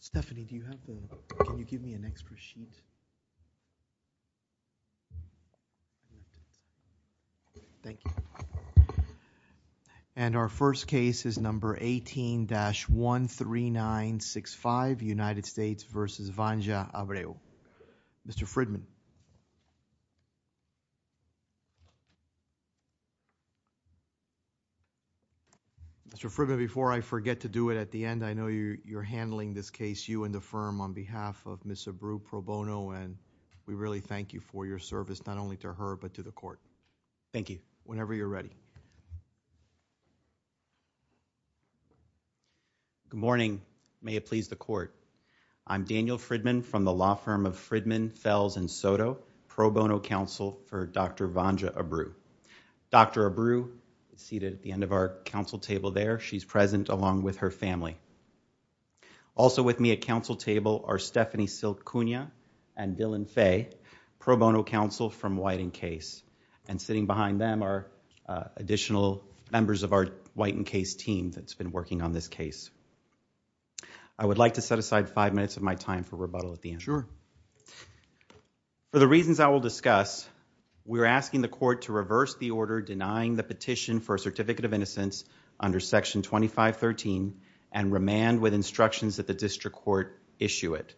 Stephanie, do you have the, can you give me an extra sheet? Thank you. And our first case is number 18-13965, United States v. Vanja Abreu. Mr. Fridman. Mr. Fridman, before I forget to do it at the end, I know you're handling this case, you and the firm, on behalf of Ms. Abreu Pro Bono, and we really thank you for your service, not only to her, but to the court. Thank you. Whenever you're ready. Good morning. May it please the court. I'm Daniel Fridman from the law firm of Fridman, Fells, and Soto, Pro Bono counsel for Dr. Vanja Abreu. Dr. Abreu is seated at the end of our counsel table there. She's present along with her family. Also with me at counsel table are Stephanie Silt Cunha and Dylan Fay, Pro Bono counsel from Whiting Case. And sitting behind them are, uh, additional members of our Whiting Case team that's been working on this case. I would like to set aside five minutes of my time for rebuttal at the end. Sure. For the reasons I will discuss, we're asking the court to reverse the order denying the petition for a certificate of innocence under section 2513 and remand with instructions that the district court issue it.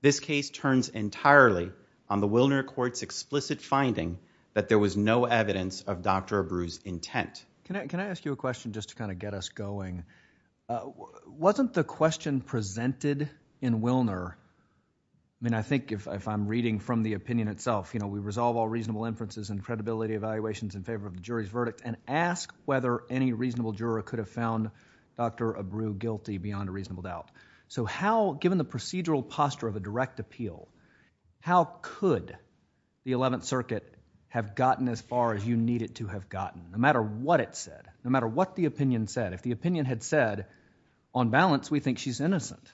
This case turns entirely on the Wilner court's explicit finding that there was no evidence of Dr. Abreu's intent. Can I, can I ask you a question just to kind of get us going? Uh, wasn't the question presented in Wilner? I mean, I think if I'm reading from the opinion itself, you know, we resolve all reasonable inferences and credibility evaluations in favor of the jury's verdict and ask whether any reasonable juror could have found Dr. Abreu guilty beyond a reasonable doubt. So how, given the procedural posture of a direct appeal, how could the 11th circuit have gotten as far as you need it to have gotten? I mean, no matter what it said, no matter what the opinion said, if the opinion had said on balance, we think she's innocent.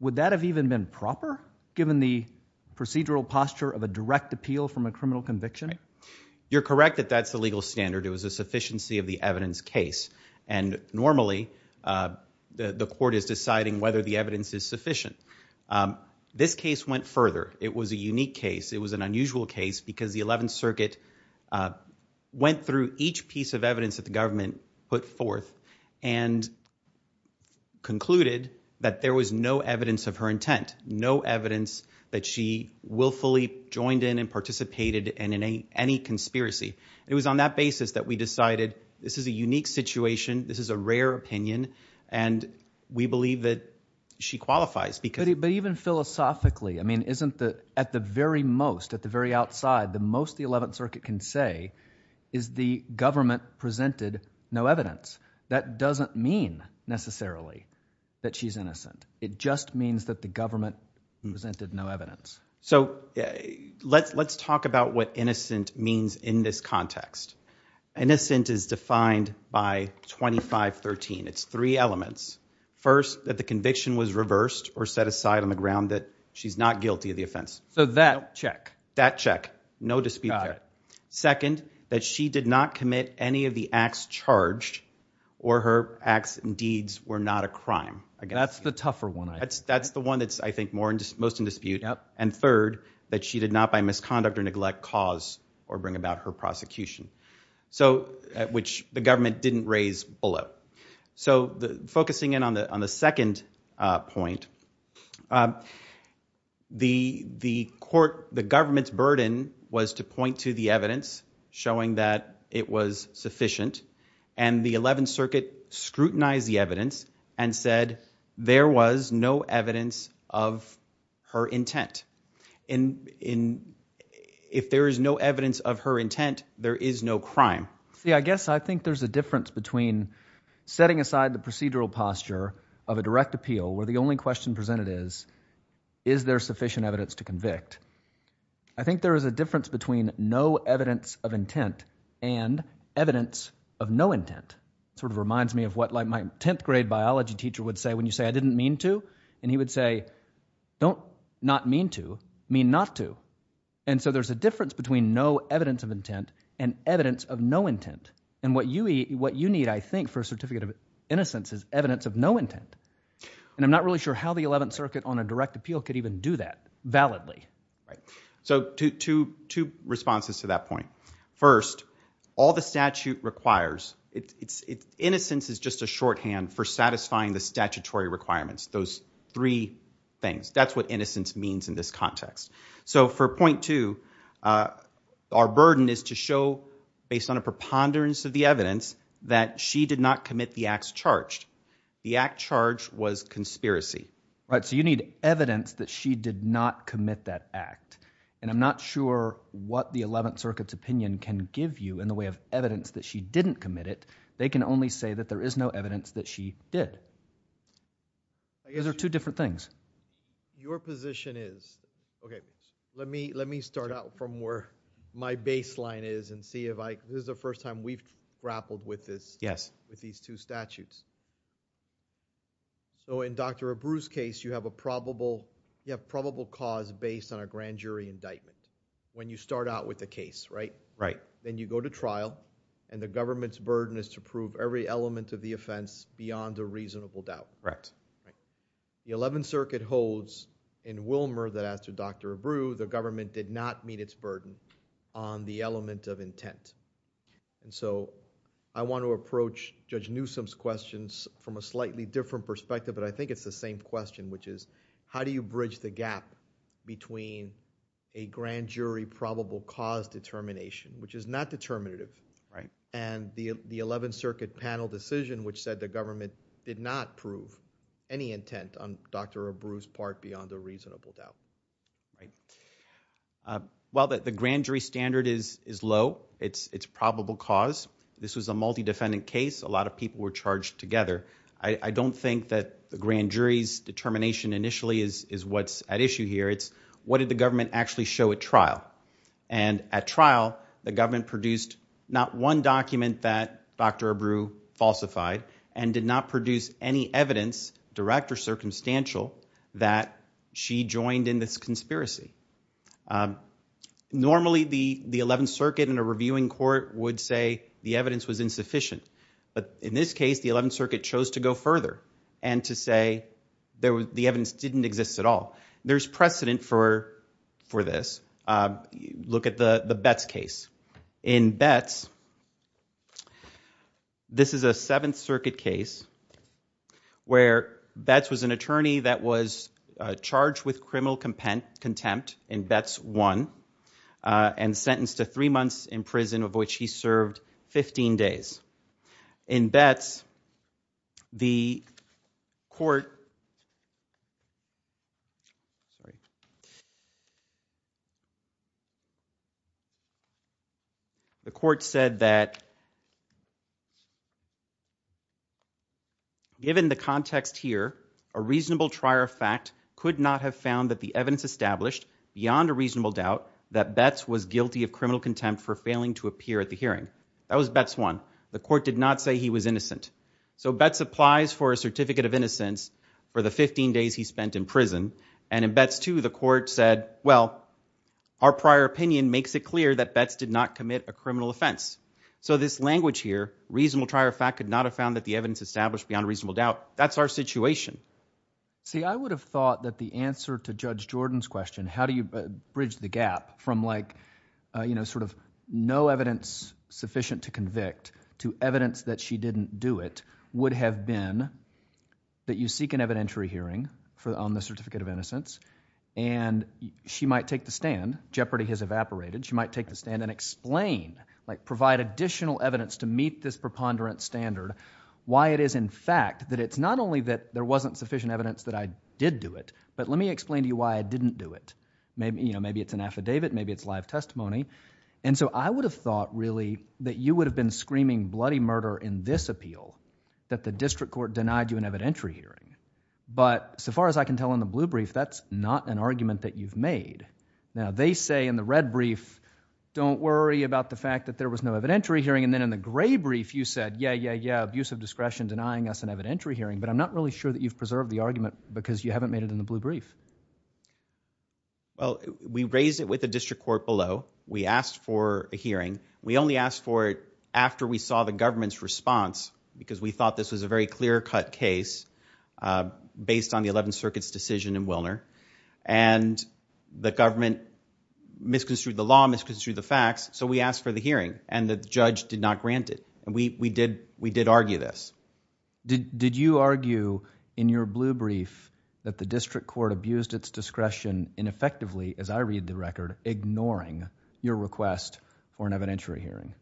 Would that have even been proper given the procedural posture of a direct appeal from a criminal conviction? You're correct that that's the legal standard. It was a sufficiency of the evidence case. And normally, uh, the, the court is deciding whether the evidence is sufficient. Um, this case went further. It was a unique case. It was an unusual case because the 11th circuit, uh, went through each piece of evidence that the government put forth and concluded that there was no evidence of her intent, no evidence that she willfully joined in and participated in any conspiracy. It was on that basis that we decided this is a unique situation. This is a rare opinion, and we believe that she qualifies because even philosophically, I mean, isn't the, at the very most, at the very outside, the most the 11th circuit can say is the government presented no evidence. That doesn't mean necessarily that she's innocent. It just means that the government presented no evidence. So let's, let's talk about what innocent means in this context. Innocent is defined by 2513. It's three elements. First, that the conviction was reversed or set aside on the ground that she's not guilty of the offense. So that check that check, no dispute. Second, that she did not commit any of the acts charged or her acts and deeds were not a crime. I guess that's the tougher one. That's, that's the one that's I think more into most in dispute. Yup. And third, that she did not, by misconduct or neglect cause or bring about her prosecution. So which the government didn't raise below. So the focusing in on the, on the second, uh, point, um, the, the court, the government's burden was to point that she was innocent. To the evidence showing that it was sufficient and the 11th circuit scrutinized the evidence and said there was no evidence of her intent in, in, if there is no evidence of her intent, there is no crime. See, I guess I think there's a difference between setting aside the procedural posture of a direct appeal where the only question presented is, is there sufficient evidence to convict? I think there is a difference between no evidence of intent and evidence of no intent. It sort of reminds me of what like my 10th grade biology teacher would say when you say I didn't mean to, and he would say, don't not mean to mean not to. And so there's a difference between no evidence of intent and evidence of no intent. And what you eat, what you need, I think for a certificate of innocence is evidence of no intent. And I'm not really sure how the 11th circuit on a direct appeal could even do that validly. So two, two, two responses to that point. First, all the statute requires it's, it's innocence is just a shorthand for satisfying the statutory requirements. Those three things, that's what innocence means in this context. So for point two, uh, our burden is to show based on a preponderance of the evidence that she did not commit the acts charged. The act charge was conspiracy. Right. So you need evidence that she did not commit that act. And I'm not sure what the 11th circuit's opinion can give you in the way of evidence that she didn't commit it. They can only say that there is no evidence that she did. I guess there are two different things. Your position is, okay, let me, let me start out from where my baseline is and see if I, this is the first time we've grappled with this. Yes. With these two statutes. So in Dr. Abreu's case, you have a probable, you have probable cause based on a grand jury indictment. When you start out with the case, right? Right. Then you go to trial and the government's burden is to prove every element of the offense beyond a reasonable doubt. Correct. Right. The 11th circuit holds in Wilmer that as to Dr. Abreu, the government did not meet its burden on the element of intent. And so I want to approach Judge Newsom's questions from a slightly different perspective, but I think it's the same question, which is, how do you bridge the gap between a grand jury probable cause determination, which is not determinative, and the, the 11th circuit panel decision, which said the government did not prove any intent on Dr. Abreu's part beyond a reasonable doubt. Right. Well, that the grand jury standard is, is low. It's, it's probable cause. This was a multi-defendant case. A lot of people were charged together. I don't think that the grand jury's determination initially is, is what's at issue here. It's what did the government actually show at trial? And at trial, the government produced not one document that Dr. Abreu falsified and did not produce any evidence, direct or circumstantial, that she joined in this conspiracy. Um, normally the, the 11th circuit and a reviewing court would say the evidence was insufficient, but in this case, the 11th circuit chose to go further and to say there was, the evidence didn't exist at all. There's precedent for, for this. Uh, look at the, the Betts case. In Betts, this is a 7th circuit case where Betts was an attorney that was, uh, charged with criminal contempt in Betts 1, uh, and sentenced to three months in prison of which he served 15 days. In Betts, the court, the court said that given the context here, a reasonable trier of fact could not have found that the evidence established beyond a reasonable doubt that Betts was guilty of criminal contempt for failing to appear at the hearing. That was Betts 1. The court did not say he was innocent. So Betts applies for a certificate of innocence for the 15 days he spent in prison. And in Betts 2, the court said, well, our prior opinion makes it clear that Betts did not commit a criminal offense. So this language here, reasonable trier of fact could not have found that the evidence established beyond a reasonable doubt. That's our situation. See, I would have thought that the answer to Judge Jordan's question, how do you bridge the gap from like, uh, you know, sort of no evidence sufficient to convict to evidence that she didn't do it would have been that you seek an evidentiary hearing on the certificate of innocence and she might take the stand, jeopardy has evaporated, she might take the stand and explain, like provide additional evidence to meet this preponderance standard, why it is in fact that it's not only that there wasn't sufficient evidence that I did do it, but let me explain to you why I didn't do it. Maybe, you know, maybe it's an affidavit, maybe it's live testimony. And so I would have thought really that you would have been screaming bloody murder in this appeal that the district court denied you an evidentiary hearing. But so far as I can tell in the blue brief, that's not an argument that you've made. Now they say in the red brief, don't worry about the fact that there was no evidentiary hearing. And then in the gray brief, you said, yeah, yeah, yeah, abuse of discretion denying us an evidentiary hearing, but I'm not really sure that you've preserved the argument because you haven't made it in the blue brief. Well, we raised it with the district court below. We asked for a hearing. We only asked for it after we saw the government's response because we thought this was a very clear cut case, uh, based on the 11th circuit's decision in Wilner and the government misconstrued the law, misconstrued the facts. So we asked for the hearing and the judge did not grant it. And we, we did, we did argue this. Did, did you argue in your blue brief that the district court abused its discretion ineffectively as I read the record, ignoring your request for an evidentiary hearing?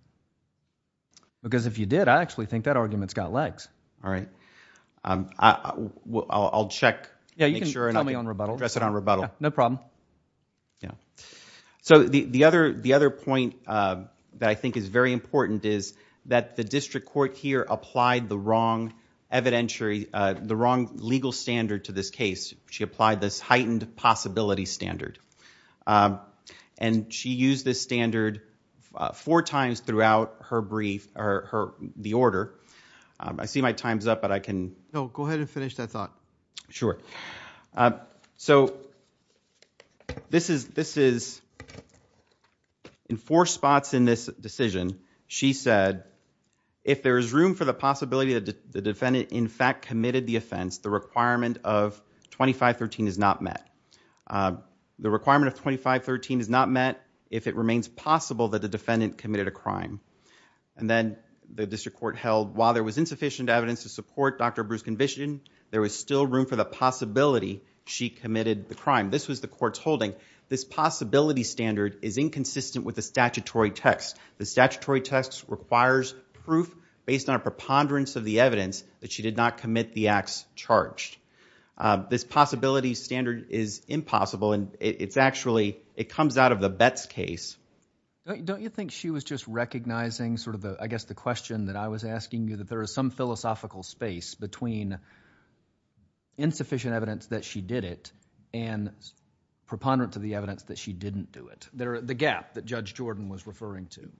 Because if you did, I actually think that argument's got legs. All right. Um, I, I'll, I'll, I'll check, make sure and address it on rebuttal. No problem. Yeah. So the, the other, the other point, uh, that I think is very important is that the district court here applied the wrong evidentiary, uh, the wrong legal standard to this case. She applied this heightened possibility standard, um, and she used this standard, uh, four times throughout her brief or her, the order. Um, I see my time's up, but I can go ahead and finish that thought. Sure. Uh, so this is, this is in four spots in this decision, she said, if there is room for the possibility that the defendant in fact committed the offense, the requirement of 2513 is not met. Uh, the requirement of 2513 is not met if it remains possible that the defendant committed a crime. And then the district court held while there was insufficient evidence to support Dr. Bruce Conviction, there was still room for the possibility she committed the crime. This was the court's holding. This possibility standard is inconsistent with the statutory text. The statutory text requires proof based on a preponderance of the evidence that she did not commit the acts charged. Uh, this possibility standard is impossible and it's actually, it comes out of the Betz case. Don't, don't you think she was just recognizing sort of the, I guess the question that I was asking, insufficient evidence that she did it and preponderance of the evidence that she didn't do it. There, the gap that Judge Jordan was referring to.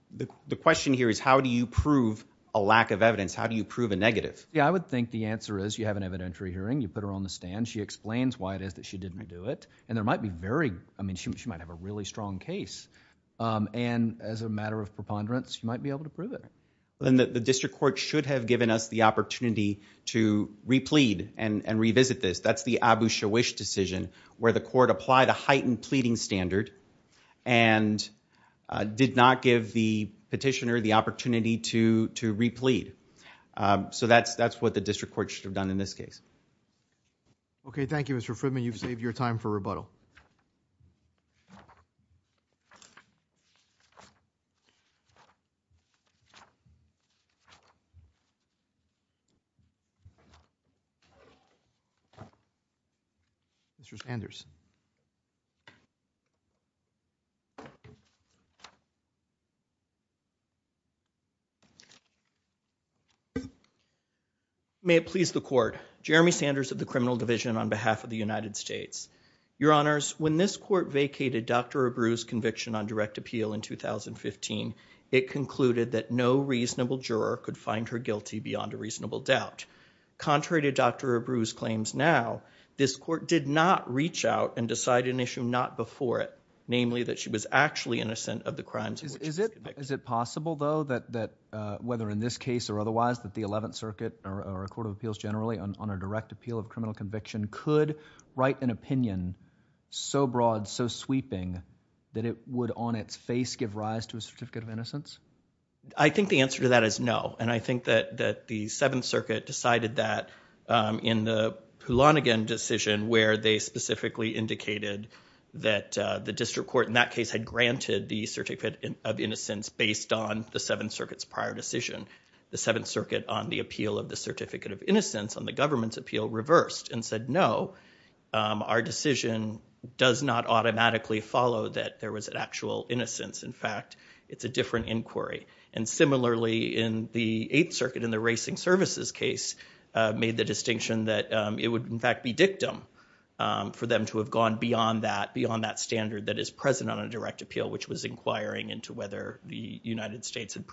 The question here is how do you prove a lack of evidence? How do you prove a negative? Yeah, I would think the answer is you have an evidentiary hearing. You put her on the stand. She explains why it is that she didn't do it and there might be very, I mean, she, she might have a really strong case, um, and as a matter of preponderance, you might be able to prove it. Then the district court should have given us the opportunity to replead and revisit this. That's the Abu Shawish decision where the court applied a heightened pleading standard and did not give the petitioner the opportunity to, to replead. Um, so that's, that's what the district court should have done in this case. Okay. Thank you, Mr. Fridman. You've saved your time for rebuttal. Mr. Sanders. May it please the court, Jeremy Sanders of the criminal division on behalf of the United States. Your honors, when this court vacated Dr. Abru's conviction on direct appeal in 2015, it concluded that no reasonable juror could find her guilty beyond a reasonable doubt. Contrary to Dr. Abru's claims now, this court did not reach out and decide an issue not before it, namely that she was actually innocent of the crimes. Is it, is it possible though that, that, uh, whether in this case or otherwise that the 11th circuit or a court of appeals generally on, on a direct appeal of criminal conviction could write an opinion so broad, so sweeping that it would on its face give rise to a certificate of innocence? I think the answer to that is no. And I think that, that the 7th circuit decided that, um, in the Poulanagan decision where they specifically indicated that, uh, the district court in that case had granted the certificate of innocence based on the 7th circuit's prior decision. The 7th circuit on the appeal of the certificate of innocence on the government's appeal reversed and said, no, um, our decision does not automatically follow that there was an actual innocence. In fact, it's a different inquiry. And similarly in the 8th circuit, in the racing services case, uh, made the distinction that, um, it would in fact be dictum, um, for them to have gone beyond that, beyond that standard that is present on a direct appeal, which was inquiring into whether the United States had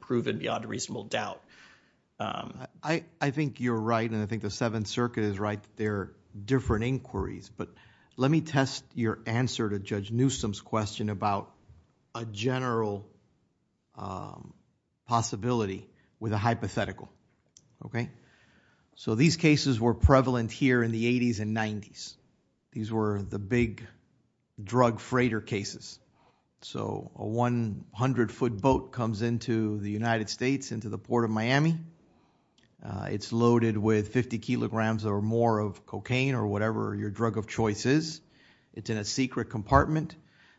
proven beyond a reasonable doubt. Um, I, I think you're right and I think the 7th circuit is right. They're different inquiries, but let me test your answer to Judge Newsom's question about a general, um, possibility with a hypothetical, okay? So these cases were prevalent here in the 80s and 90s. These were the big drug freighter cases. So a 100 foot boat comes into the United States, into the Port of Miami. Uh, it's loaded with 50 kilograms or more of cocaine or whatever your drug of choice is. It's in a secret compartment.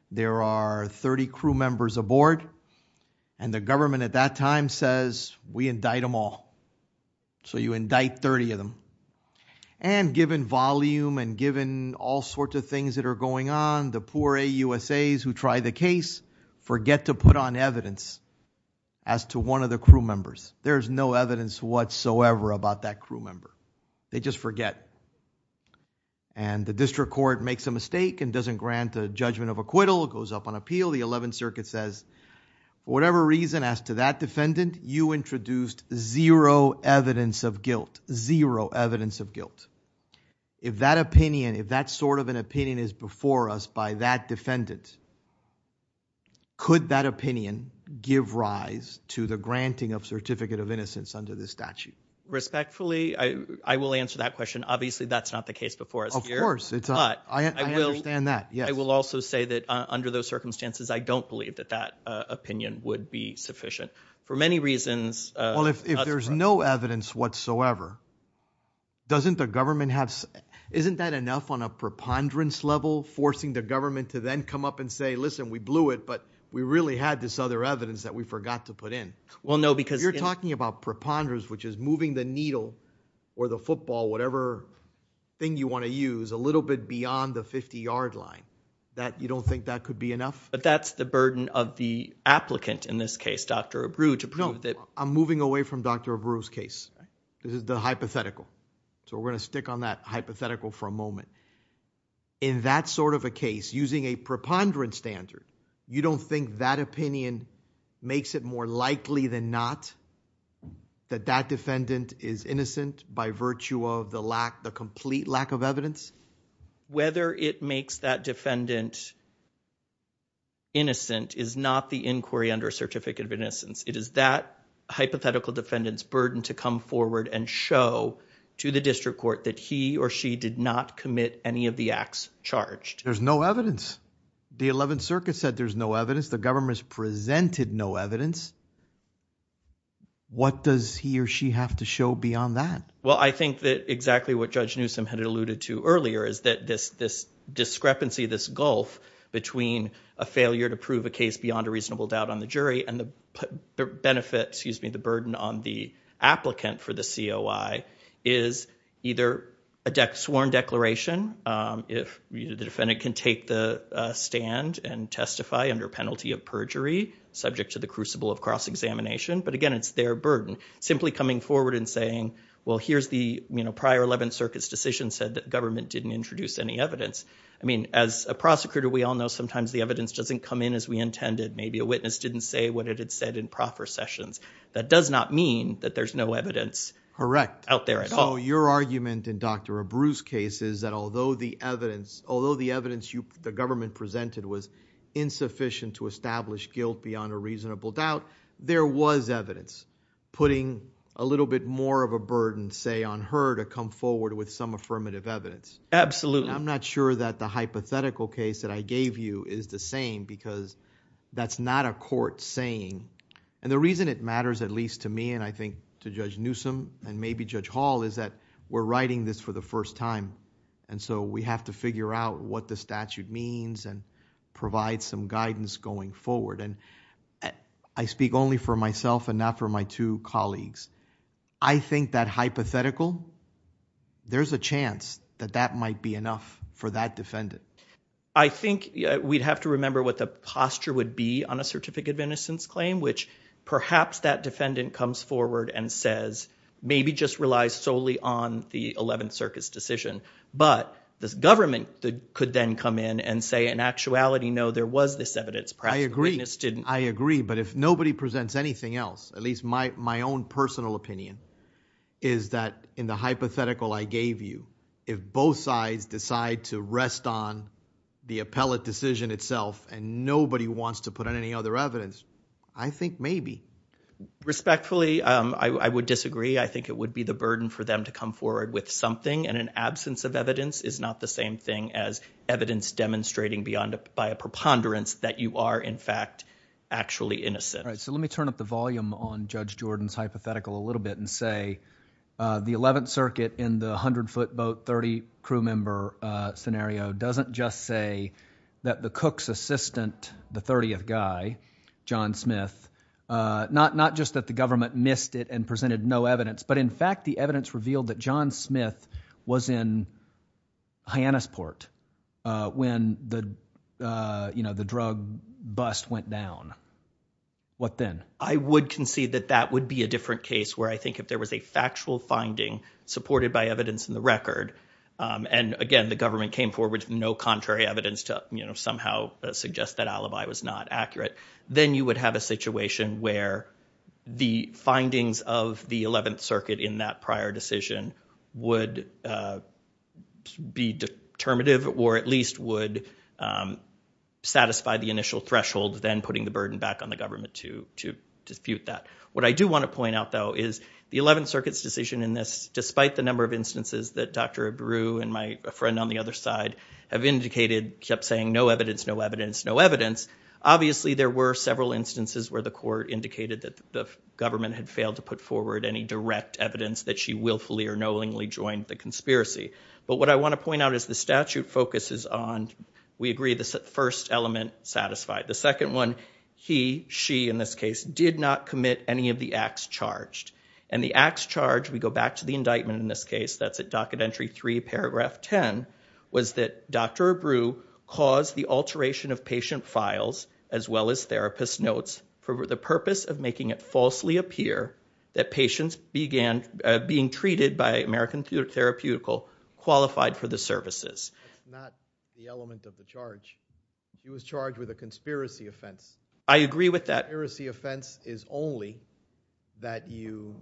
There are 30 crew members aboard and the government at that time says, we indict them all. So you indict 30 of them. And given volume and given all sorts of things that are going on, the poor AUSAs who try the case forget to put on evidence as to one of the crew members. There's no evidence whatsoever about that crew member. They just forget. And the district court makes a mistake and doesn't grant a judgment of acquittal, goes up on appeal. The 11th circuit says, whatever reason as to that defendant, you introduced zero evidence of guilt, zero evidence of guilt. If that opinion, if that sort of an opinion is before us by that defendant, could that opinion give rise to the granting of certificate of innocence under this statute? Respectfully, I will answer that question. Obviously, that's not the case before us here. Of course. I understand that. Yes. I will also say that under those circumstances, I don't believe that that opinion would be sufficient. For many reasons. Well, if there's no evidence whatsoever, doesn't the government have, isn't that enough on a preponderance level, forcing the government to then come up and say, listen, we blew it, but we really had this other evidence that we forgot to put in. Well, no. You're talking about preponderance, which is moving the needle or the football, whatever thing you want to use, a little bit beyond the 50-yard line. You don't think that could be enough? That's the burden of the applicant in this case, Dr. Abreu, to prove that... No. I'm moving away from Dr. Abreu's case. This is the hypothetical. We're going to stick on that hypothetical for a moment. In that sort of a case, using a preponderance standard, you don't think that opinion makes it more likely than not that that defendant is innocent by virtue of the complete lack of evidence? Whether it makes that defendant innocent is not the inquiry under a Certificate of Innocence. It is that hypothetical defendant's burden to come forward and show to the district court that he or she did not commit any of the acts charged. There's no evidence. The Eleventh Circuit said there's no evidence. The government's presented no evidence. What does he or she have to show beyond that? Well, I think that exactly what Judge Newsom had alluded to earlier is that this discrepancy, this gulf between a failure to prove a case beyond a reasonable doubt on the jury and the benefit, excuse me, the burden on the applicant for the COI is either a sworn declaration if the defendant can take the stand and testify under penalty of perjury subject to the crucible of cross-examination, but again, it's their burden. Simply coming forward and saying, well, here's the prior Eleventh Circuit's decision said that government didn't introduce any evidence. As a prosecutor, we all know sometimes the evidence doesn't come in as we intended. Maybe a witness didn't say what it had said in proper sessions. That does not mean that there's no evidence out there at all. Your argument in Dr. Abreu's case is that although the evidence the government presented was insufficient to establish guilt beyond a reasonable doubt, there was evidence. Putting a little bit more of a burden, say, on her to come forward with some affirmative evidence. Absolutely. I'm not sure that the hypothetical case that I gave you is the same because that's not a court saying, and the reason it matters at least to me and I think to Judge Newsom and maybe Judge Hall is that we're writing this for the first time. We have to figure out what the statute means and provide some guidance going forward. I speak only for myself and not for my two colleagues. I think that hypothetical, there's a chance that that might be enough for that defendant. I think we'd have to remember what the posture would be on a certificate of innocence claim which perhaps that defendant comes forward and says, maybe just relies solely on the 11th Circus decision, but this government could then come in and say in actuality, no, there was this evidence. Perhaps the witness didn't. I agree, but if nobody presents anything else, at least my own personal opinion, is that in the hypothetical I gave you, if both sides decide to rest on the appellate decision itself and nobody wants to put in any other evidence, I think maybe. Respectfully, I would disagree. I think it would be the burden for them to come forward with something and an absence of evidence is not the same thing as evidence demonstrating by a preponderance that you are in fact actually innocent. Let me turn up the volume on Judge Jordan's hypothetical a little bit and say the 11th assistant, the 30th guy, John Smith, not just that the government missed it and presented no evidence, but in fact, the evidence revealed that John Smith was in Hyannisport when the drug bust went down. What then? I would concede that that would be a different case where I think if there was a factual finding supported by evidence in the record, and again, the government came forward with no contrary evidence to somehow suggest that alibi was not accurate, then you would have a situation where the findings of the 11th Circuit in that prior decision would be determinative or at least would satisfy the initial threshold, then putting the burden back on the government to dispute that. What I do want to point out, though, is the 11th Circuit's decision in this, despite the kept saying, no evidence, no evidence, no evidence, obviously there were several instances where the court indicated that the government had failed to put forward any direct evidence that she willfully or knowingly joined the conspiracy. But what I want to point out is the statute focuses on, we agree, the first element satisfied. The second one, he, she, in this case, did not commit any of the acts charged. And the acts charged, we go back to the indictment in this case, that's at Docket Entry 3, Paragraph 10, was that Dr. Abreu caused the alteration of patient files, as well as therapist notes, for the purpose of making it falsely appear that patients being treated by American Therapeutical qualified for the services. That's not the element of the charge. He was charged with a conspiracy offense. I agree with that. That heresy offense is only that you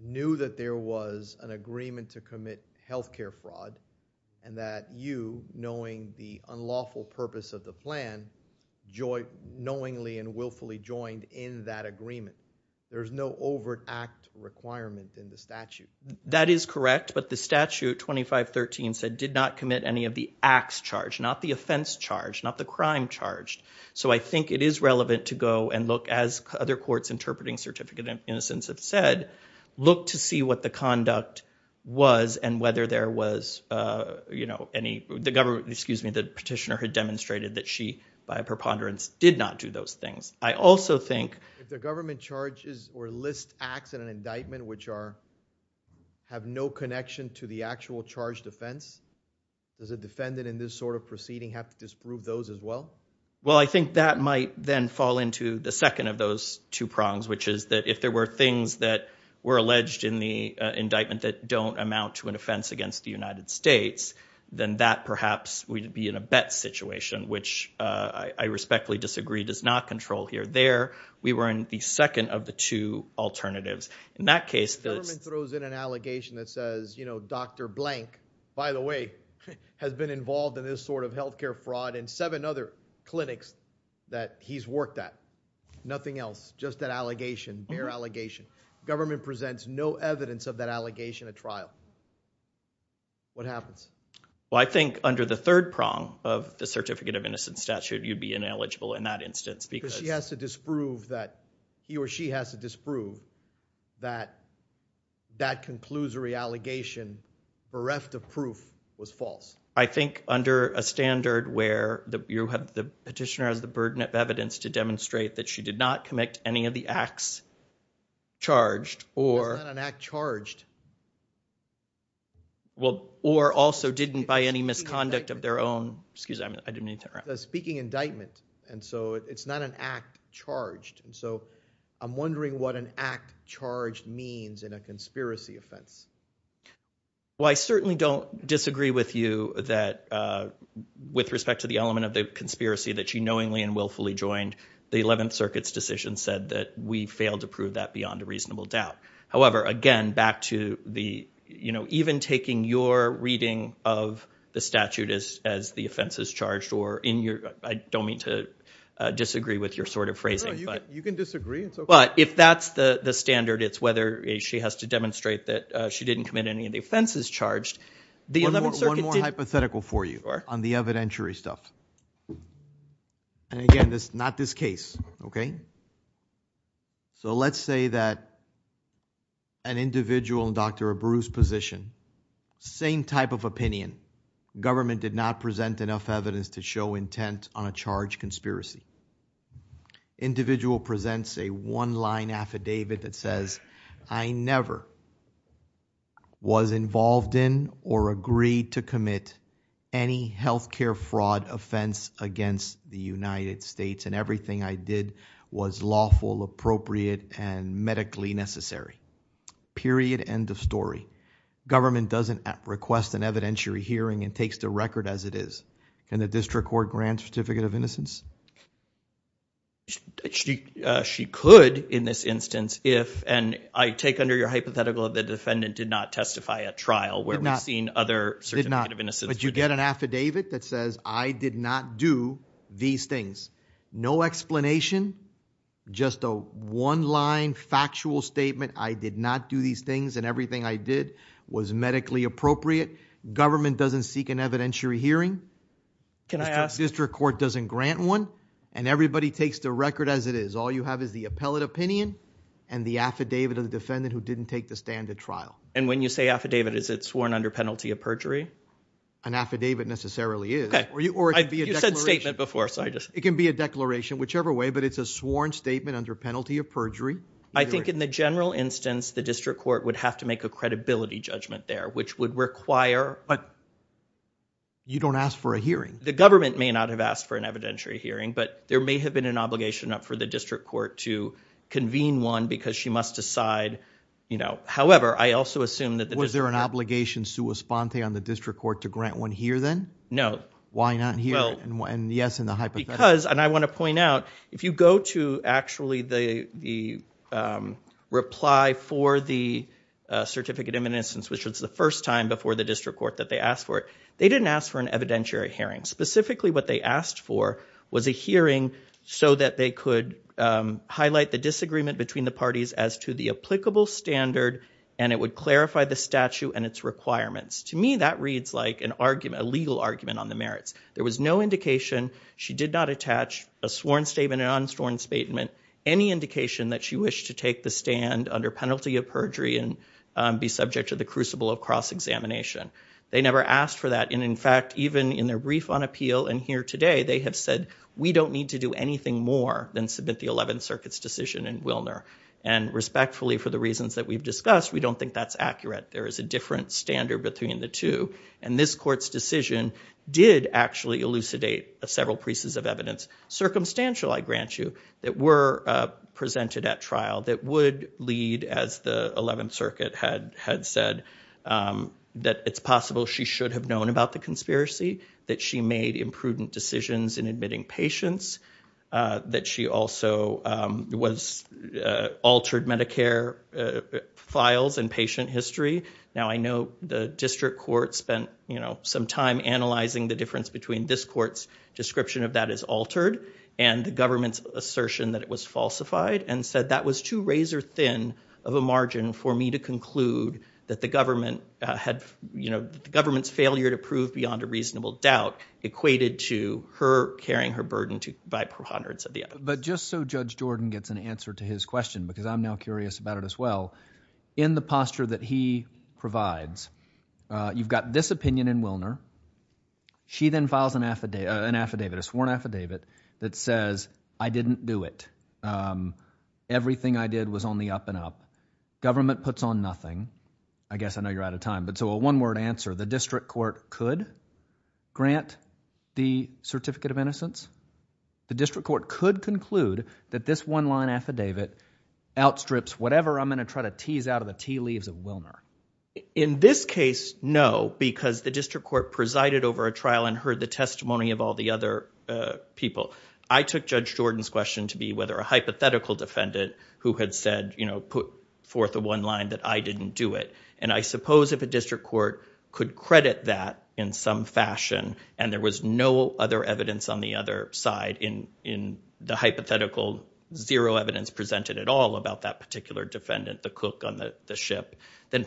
knew that there was an agreement to commit health care fraud, and that you, knowing the unlawful purpose of the plan, knowingly and willfully joined in that agreement. There's no overt act requirement in the statute. That is correct, but the statute 2513 said did not commit any of the acts charged, not the offense charged, not the crime charged. I think it is relevant to go and look, as other courts interpreting certificate of innocence have said, look to see what the conduct was and whether there was any, the petitioner had demonstrated that she, by preponderance, did not do those things. I also think- If the government charges or lists acts in an indictment which have no connection to the actual charge defense, does a defendant in this sort of proceeding have to disprove those as well? Well, I think that might then fall into the second of those two prongs, which is that if there were things that were alleged in the indictment that don't amount to an offense against the United States, then that perhaps would be in a bet situation, which I respectfully disagree does not control here. There, we were in the second of the two alternatives. In that case- The government throws in an allegation that says, you know, Dr. blank, by the way, has been involved in this sort of healthcare fraud in seven other clinics that he's worked at. Nothing else. Just that allegation, mere allegation. Government presents no evidence of that allegation at trial. What happens? Well, I think under the third prong of the certificate of innocence statute, you'd be ineligible in that instance because- Because she has to disprove that, he or she has to disprove that that conclusory allegation bereft of proof was false. I think under a standard where you have the petitioner has the burden of evidence to demonstrate that she did not commit any of the acts charged or- It's not an act charged. Well, or also didn't by any misconduct of their own, excuse me, I didn't mean to interrupt. I'm speaking indictment, and so it's not an act charged. So I'm wondering what an act charged means in a conspiracy offense. Well, I certainly don't disagree with you that with respect to the element of the conspiracy that she knowingly and willfully joined, the 11th Circuit's decision said that we failed to prove that beyond a reasonable doubt. However, again, back to the, even taking your reading of the statute as the offenses charged or in your, I don't mean to disagree with your sort of phrasing, but- You can disagree. It's okay. But if that's the standard, it's whether she has to demonstrate that she didn't commit any of the offenses charged, the 11th Circuit didn't- One more hypothetical for you on the evidentiary stuff, and again, not this case, okay? So let's say that an individual in Dr. Abreu's position, same type of opinion, government did not present enough evidence to show intent on a charge conspiracy. Individual presents a one-line affidavit that says, I never was involved in or agreed to commit any healthcare fraud offense against the United States, and everything I did was lawful, appropriate, and medically necessary, period, end of story. Government doesn't request an evidentiary hearing and takes the record as it is, and she could, in this instance, if, and I take under your hypothetical that the defendant did not testify at trial, where we've seen other- Did not. Did not. But you get an affidavit that says, I did not do these things. No explanation, just a one-line factual statement, I did not do these things, and everything I did was medically appropriate. Government doesn't seek an evidentiary hearing. Can I ask- And everybody takes the record as it is. All you have is the appellate opinion and the affidavit of the defendant who didn't take the stand at trial. And when you say affidavit, is it sworn under penalty of perjury? An affidavit necessarily is. Okay. Or it can be a declaration. You said statement before, so I just- It can be a declaration, whichever way, but it's a sworn statement under penalty of perjury. I think in the general instance, the district court would have to make a credibility judgment there, which would require- But you don't ask for a hearing. The government may not have asked for an evidentiary hearing, but there may have been an obligation up for the district court to convene one because she must decide, however, I also assume that the district- Was there an obligation sua sponte on the district court to grant one here then? No. Why not here? And yes, in the hypothetical- Because, and I want to point out, if you go to actually the reply for the certificate in an instance, which was the first time before the district court that they asked for it, they didn't ask for an evidentiary hearing. Specifically what they asked for was a hearing so that they could highlight the disagreement between the parties as to the applicable standard, and it would clarify the statute and its requirements. To me, that reads like a legal argument on the merits. There was no indication. She did not attach a sworn statement, a non-sworn statement, any indication that she wished to take the stand under penalty of perjury and be subject to the crucible of cross-examination. They never asked for that. And in fact, even in their brief on appeal and here today, they have said, we don't need to do anything more than submit the 11th Circuit's decision in Wilner. And respectfully, for the reasons that we've discussed, we don't think that's accurate. There is a different standard between the two. And this court's decision did actually elucidate several pieces of evidence, circumstantial I grant you, that were presented at trial that would lead, as the 11th Circuit had said, that it's possible she should have known about the conspiracy, that she made imprudent decisions in admitting patients, that she also altered Medicare files and patient history. Now I know the district court spent some time analyzing the difference between this court's description of that as altered and the government's assertion that it was falsified, and said that was too razor thin of a margin for me to conclude that the government's failure to prove beyond a reasonable doubt equated to her carrying her burden by hundreds of the other. But just so Judge Jordan gets an answer to his question, because I'm now curious about it as well, in the posture that he provides, you've got this opinion in Wilner. She then files an affidavit, a sworn affidavit, that says, I didn't do it. Everything I did was on the up and up. Government puts on nothing. I guess I know you're out of time, but so a one-word answer. The district court could grant the certificate of innocence. The district court could conclude that this one-line affidavit outstrips whatever I'm going to try to tease out of the tea leaves of Wilner. In this case, no, because the district court presided over a trial and heard the testimony of all the other people. I took Judge Jordan's question to be whether a hypothetical defendant who had said, you know, put forth a one-line that I didn't do it. And I suppose if a district court could credit that in some fashion, and there was no other evidence on the other side in the hypothetical, zero evidence presented at all about that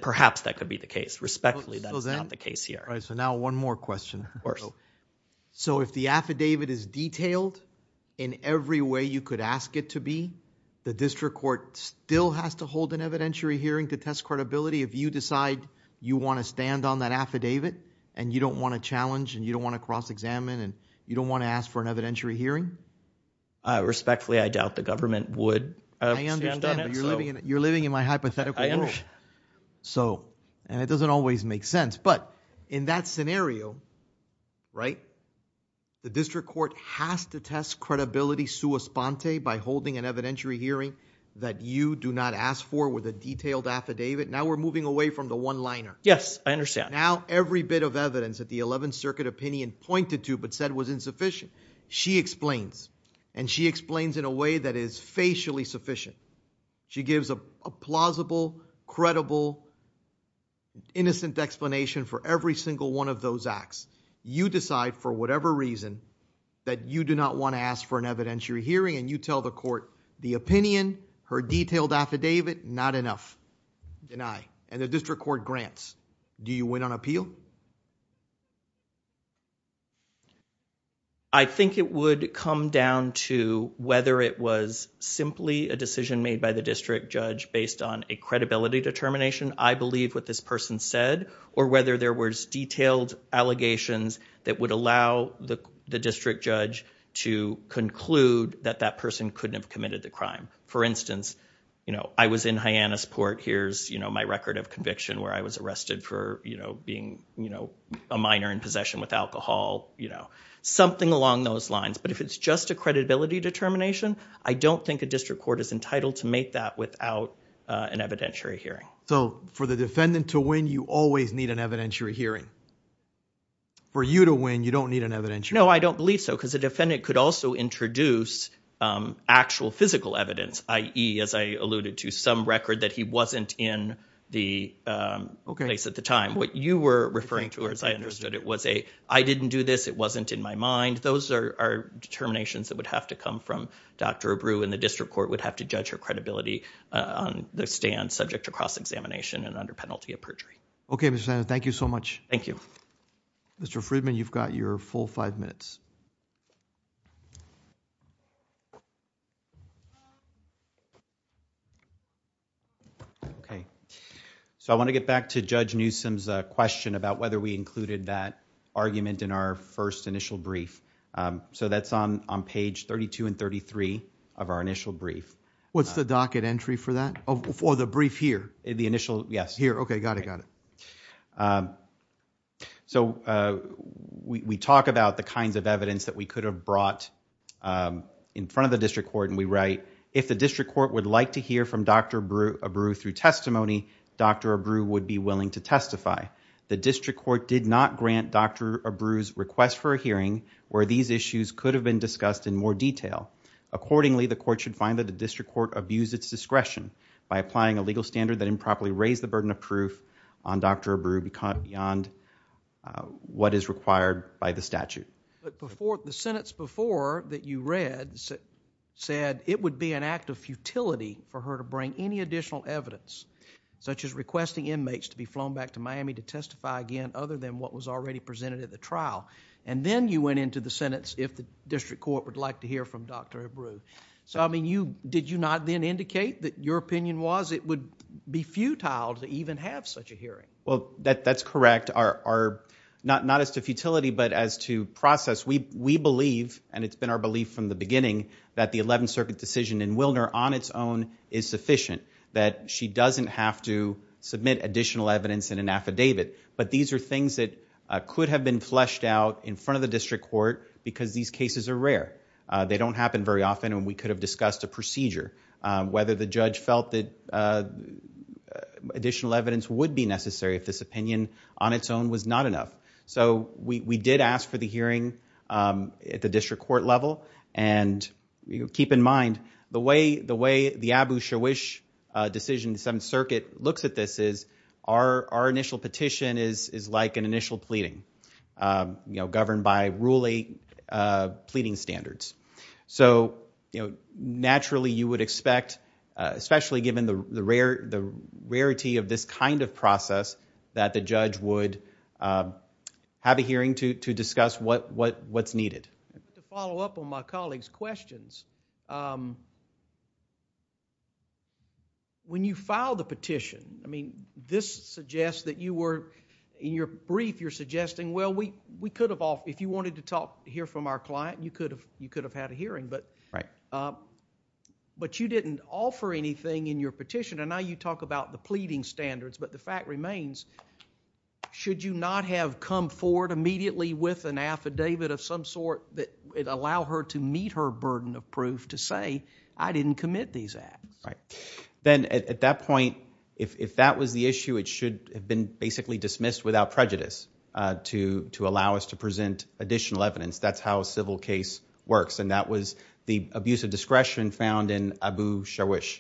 perhaps that could be the case. Respectfully, that's not the case here. All right. So now, one more question. Of course. So, if the affidavit is detailed in every way you could ask it to be, the district court still has to hold an evidentiary hearing to test credibility if you decide you want to stand on that affidavit and you don't want to challenge and you don't want to cross-examine and you don't want to ask for an evidentiary hearing? Respectfully, I doubt the government would stand on it. You're living in my hypothetical world. So, and it doesn't always make sense. But in that scenario, right, the district court has to test credibility sua sponte by holding an evidentiary hearing that you do not ask for with a detailed affidavit. Now we're moving away from the one-liner. Yes. I understand. Now, every bit of evidence that the 11th Circuit opinion pointed to but said was insufficient, she explains. And she explains in a way that is facially sufficient. She gives a plausible, credible, innocent explanation for every single one of those acts. You decide for whatever reason that you do not want to ask for an evidentiary hearing and you tell the court the opinion, her detailed affidavit, not enough, deny. And the district court grants. Do you win on appeal? I think it would come down to whether it was simply a decision made by the district judge based on a credibility determination, I believe what this person said, or whether there was detailed allegations that would allow the district judge to conclude that that person couldn't have committed the crime. For instance, you know, I was in Hyannis Port, here's, you know, my record of conviction where I was arrested for, you know, being, you know, a minor in possession with alcohol, you know. Something along those lines. But if it's just a credibility determination, I don't think a district court is entitled to make that without an evidentiary hearing. So for the defendant to win, you always need an evidentiary hearing. For you to win, you don't need an evidentiary hearing. No, I don't believe so. Because the defendant could also introduce actual physical evidence, i.e., as I alluded to, some record that he wasn't in the place at the time. What you were referring to, as I understood it, was a, I didn't do this, it wasn't in my mind. Those are determinations that would have to come from Dr. Abreu, and the district court would have to judge her credibility on the stand subject to cross-examination and under penalty of perjury. Okay, Mr. Snyder. Thank you so much. Thank you. Mr. Friedman, you've got your full five minutes. Okay. So I want to get back to Judge Newsom's question about whether we included that argument in our first initial brief. So that's on page 32 and 33 of our initial brief. What's the docket entry for that? For the brief here? The initial, yes. Here. Okay. Okay. I got it. I got it. So we talk about the kinds of evidence that we could have brought in front of the district court, and we write, if the district court would like to hear from Dr. Abreu through testimony, Dr. Abreu would be willing to testify. The district court did not grant Dr. Abreu's request for a hearing where these issues could have been discussed in more detail. Accordingly, the court should find that the district court abused its discretion by applying a legal standard that improperly raised the burden of proof on Dr. Abreu beyond what is required by the statute. The sentence before that you read said it would be an act of futility for her to bring any additional evidence, such as requesting inmates to be flown back to Miami to testify again other than what was already presented at the trial, and then you went into the sentence if the district court would like to hear from Dr. Abreu. So did you not then indicate that your opinion was it would be futile to even have such a hearing? Well, that's correct. Not as to futility, but as to process. We believe, and it's been our belief from the beginning, that the Eleventh Circuit decision in Wilner on its own is sufficient, that she doesn't have to submit additional evidence in an affidavit. But these are things that could have been fleshed out in front of the district court because these cases are rare. They don't happen very often, and we could have discussed a procedure, whether the judge felt that additional evidence would be necessary if this opinion on its own was not enough. So we did ask for the hearing at the district court level, and keep in mind, the way the Abu Shawish decision in the Seventh Circuit looks at this is our initial petition is like an initial pleading governed by ruling pleading standards. So naturally, you would expect, especially given the rarity of this kind of process, that the judge would have a hearing to discuss what's needed. To follow up on my colleague's questions, when you file the petition, this suggests that you were, in your brief, you're suggesting, well, if you wanted to hear from our client, you could have had a hearing. But you didn't offer anything in your petition, and now you talk about the pleading standards, but the fact remains, should you not have come forward immediately with an affidavit of some sort that would allow her to meet her burden of proof to say, I didn't commit these acts? Then at that point, if that was the issue, it should have been basically dismissed without prejudice to allow us to present additional evidence. That's how a civil case works, and that was the abuse of discretion found in Abu Shawish.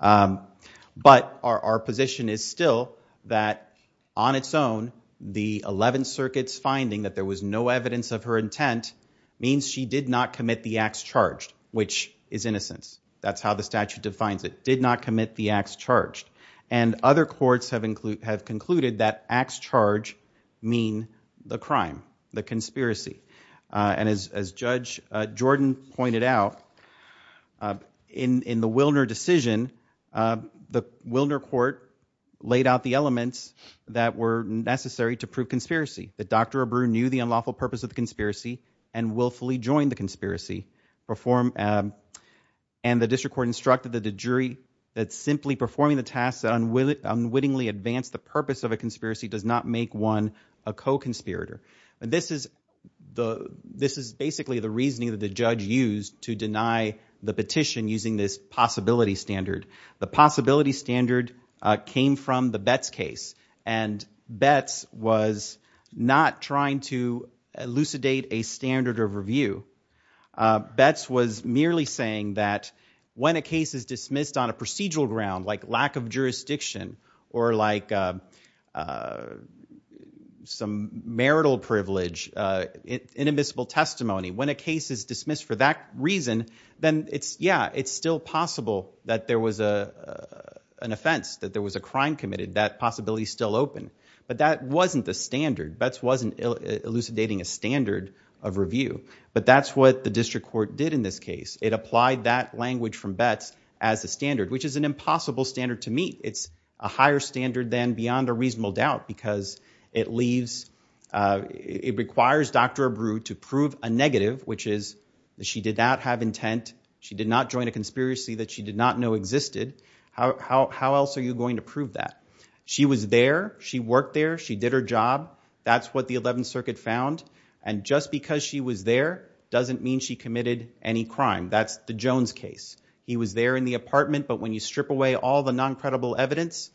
But our position is still that, on its own, the Eleventh Circuit's finding that there was no evidence of her intent means she did not commit the acts charged, which is innocence. That's how the statute defines it, did not commit the acts charged. And other courts have concluded that acts charged mean the crime, the conspiracy. And as Judge Jordan pointed out, in the Wilner decision, the Wilner court laid out the elements that were necessary to prove conspiracy, that Dr. Abreu knew the unlawful purpose of the And the district court instructed that the jury that simply performing the tasks that unwittingly advance the purpose of a conspiracy does not make one a co-conspirator. This is basically the reasoning that the judge used to deny the petition using this possibility standard. The possibility standard came from the Betts case, and Betts was not trying to elucidate a standard of review. Betts was merely saying that when a case is dismissed on a procedural ground, like lack of jurisdiction, or like some marital privilege, inadmissible testimony, when a case is dismissed for that reason, then it's, yeah, it's still possible that there was an offense, that there was a crime committed, that possibility is still open. But that wasn't the standard. Betts wasn't elucidating a standard of review. But that's what the district court did in this case. It applied that language from Betts as a standard, which is an impossible standard to meet. It's a higher standard than beyond a reasonable doubt because it leaves, it requires Dr. Abreu to prove a negative, which is that she did not have intent, she did not join a conspiracy that she did not know existed. How else are you going to prove that? She was there. She worked there. She did her job. That's what the 11th Circuit found. And just because she was there doesn't mean she committed any crime. That's the Jones case. He was there in the apartment. But when you strip away all the noncredible evidence,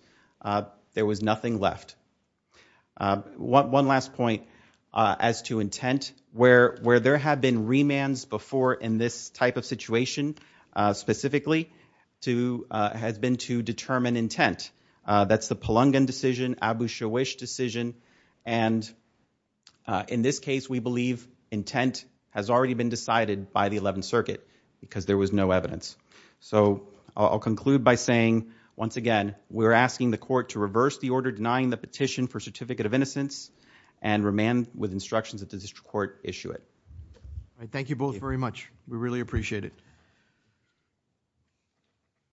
there was nothing left. One last point as to intent, where there have been remands before in this type of situation specifically, has been to determine intent. That's the Palungan decision, Abu Shawish decision. And in this case, we believe intent has already been decided by the 11th Circuit because there was no evidence. So I'll conclude by saying, once again, we're asking the court to reverse the order denying the petition for certificate of innocence and remand with instructions that the district court issue it. Thank you both very much. We really appreciate it.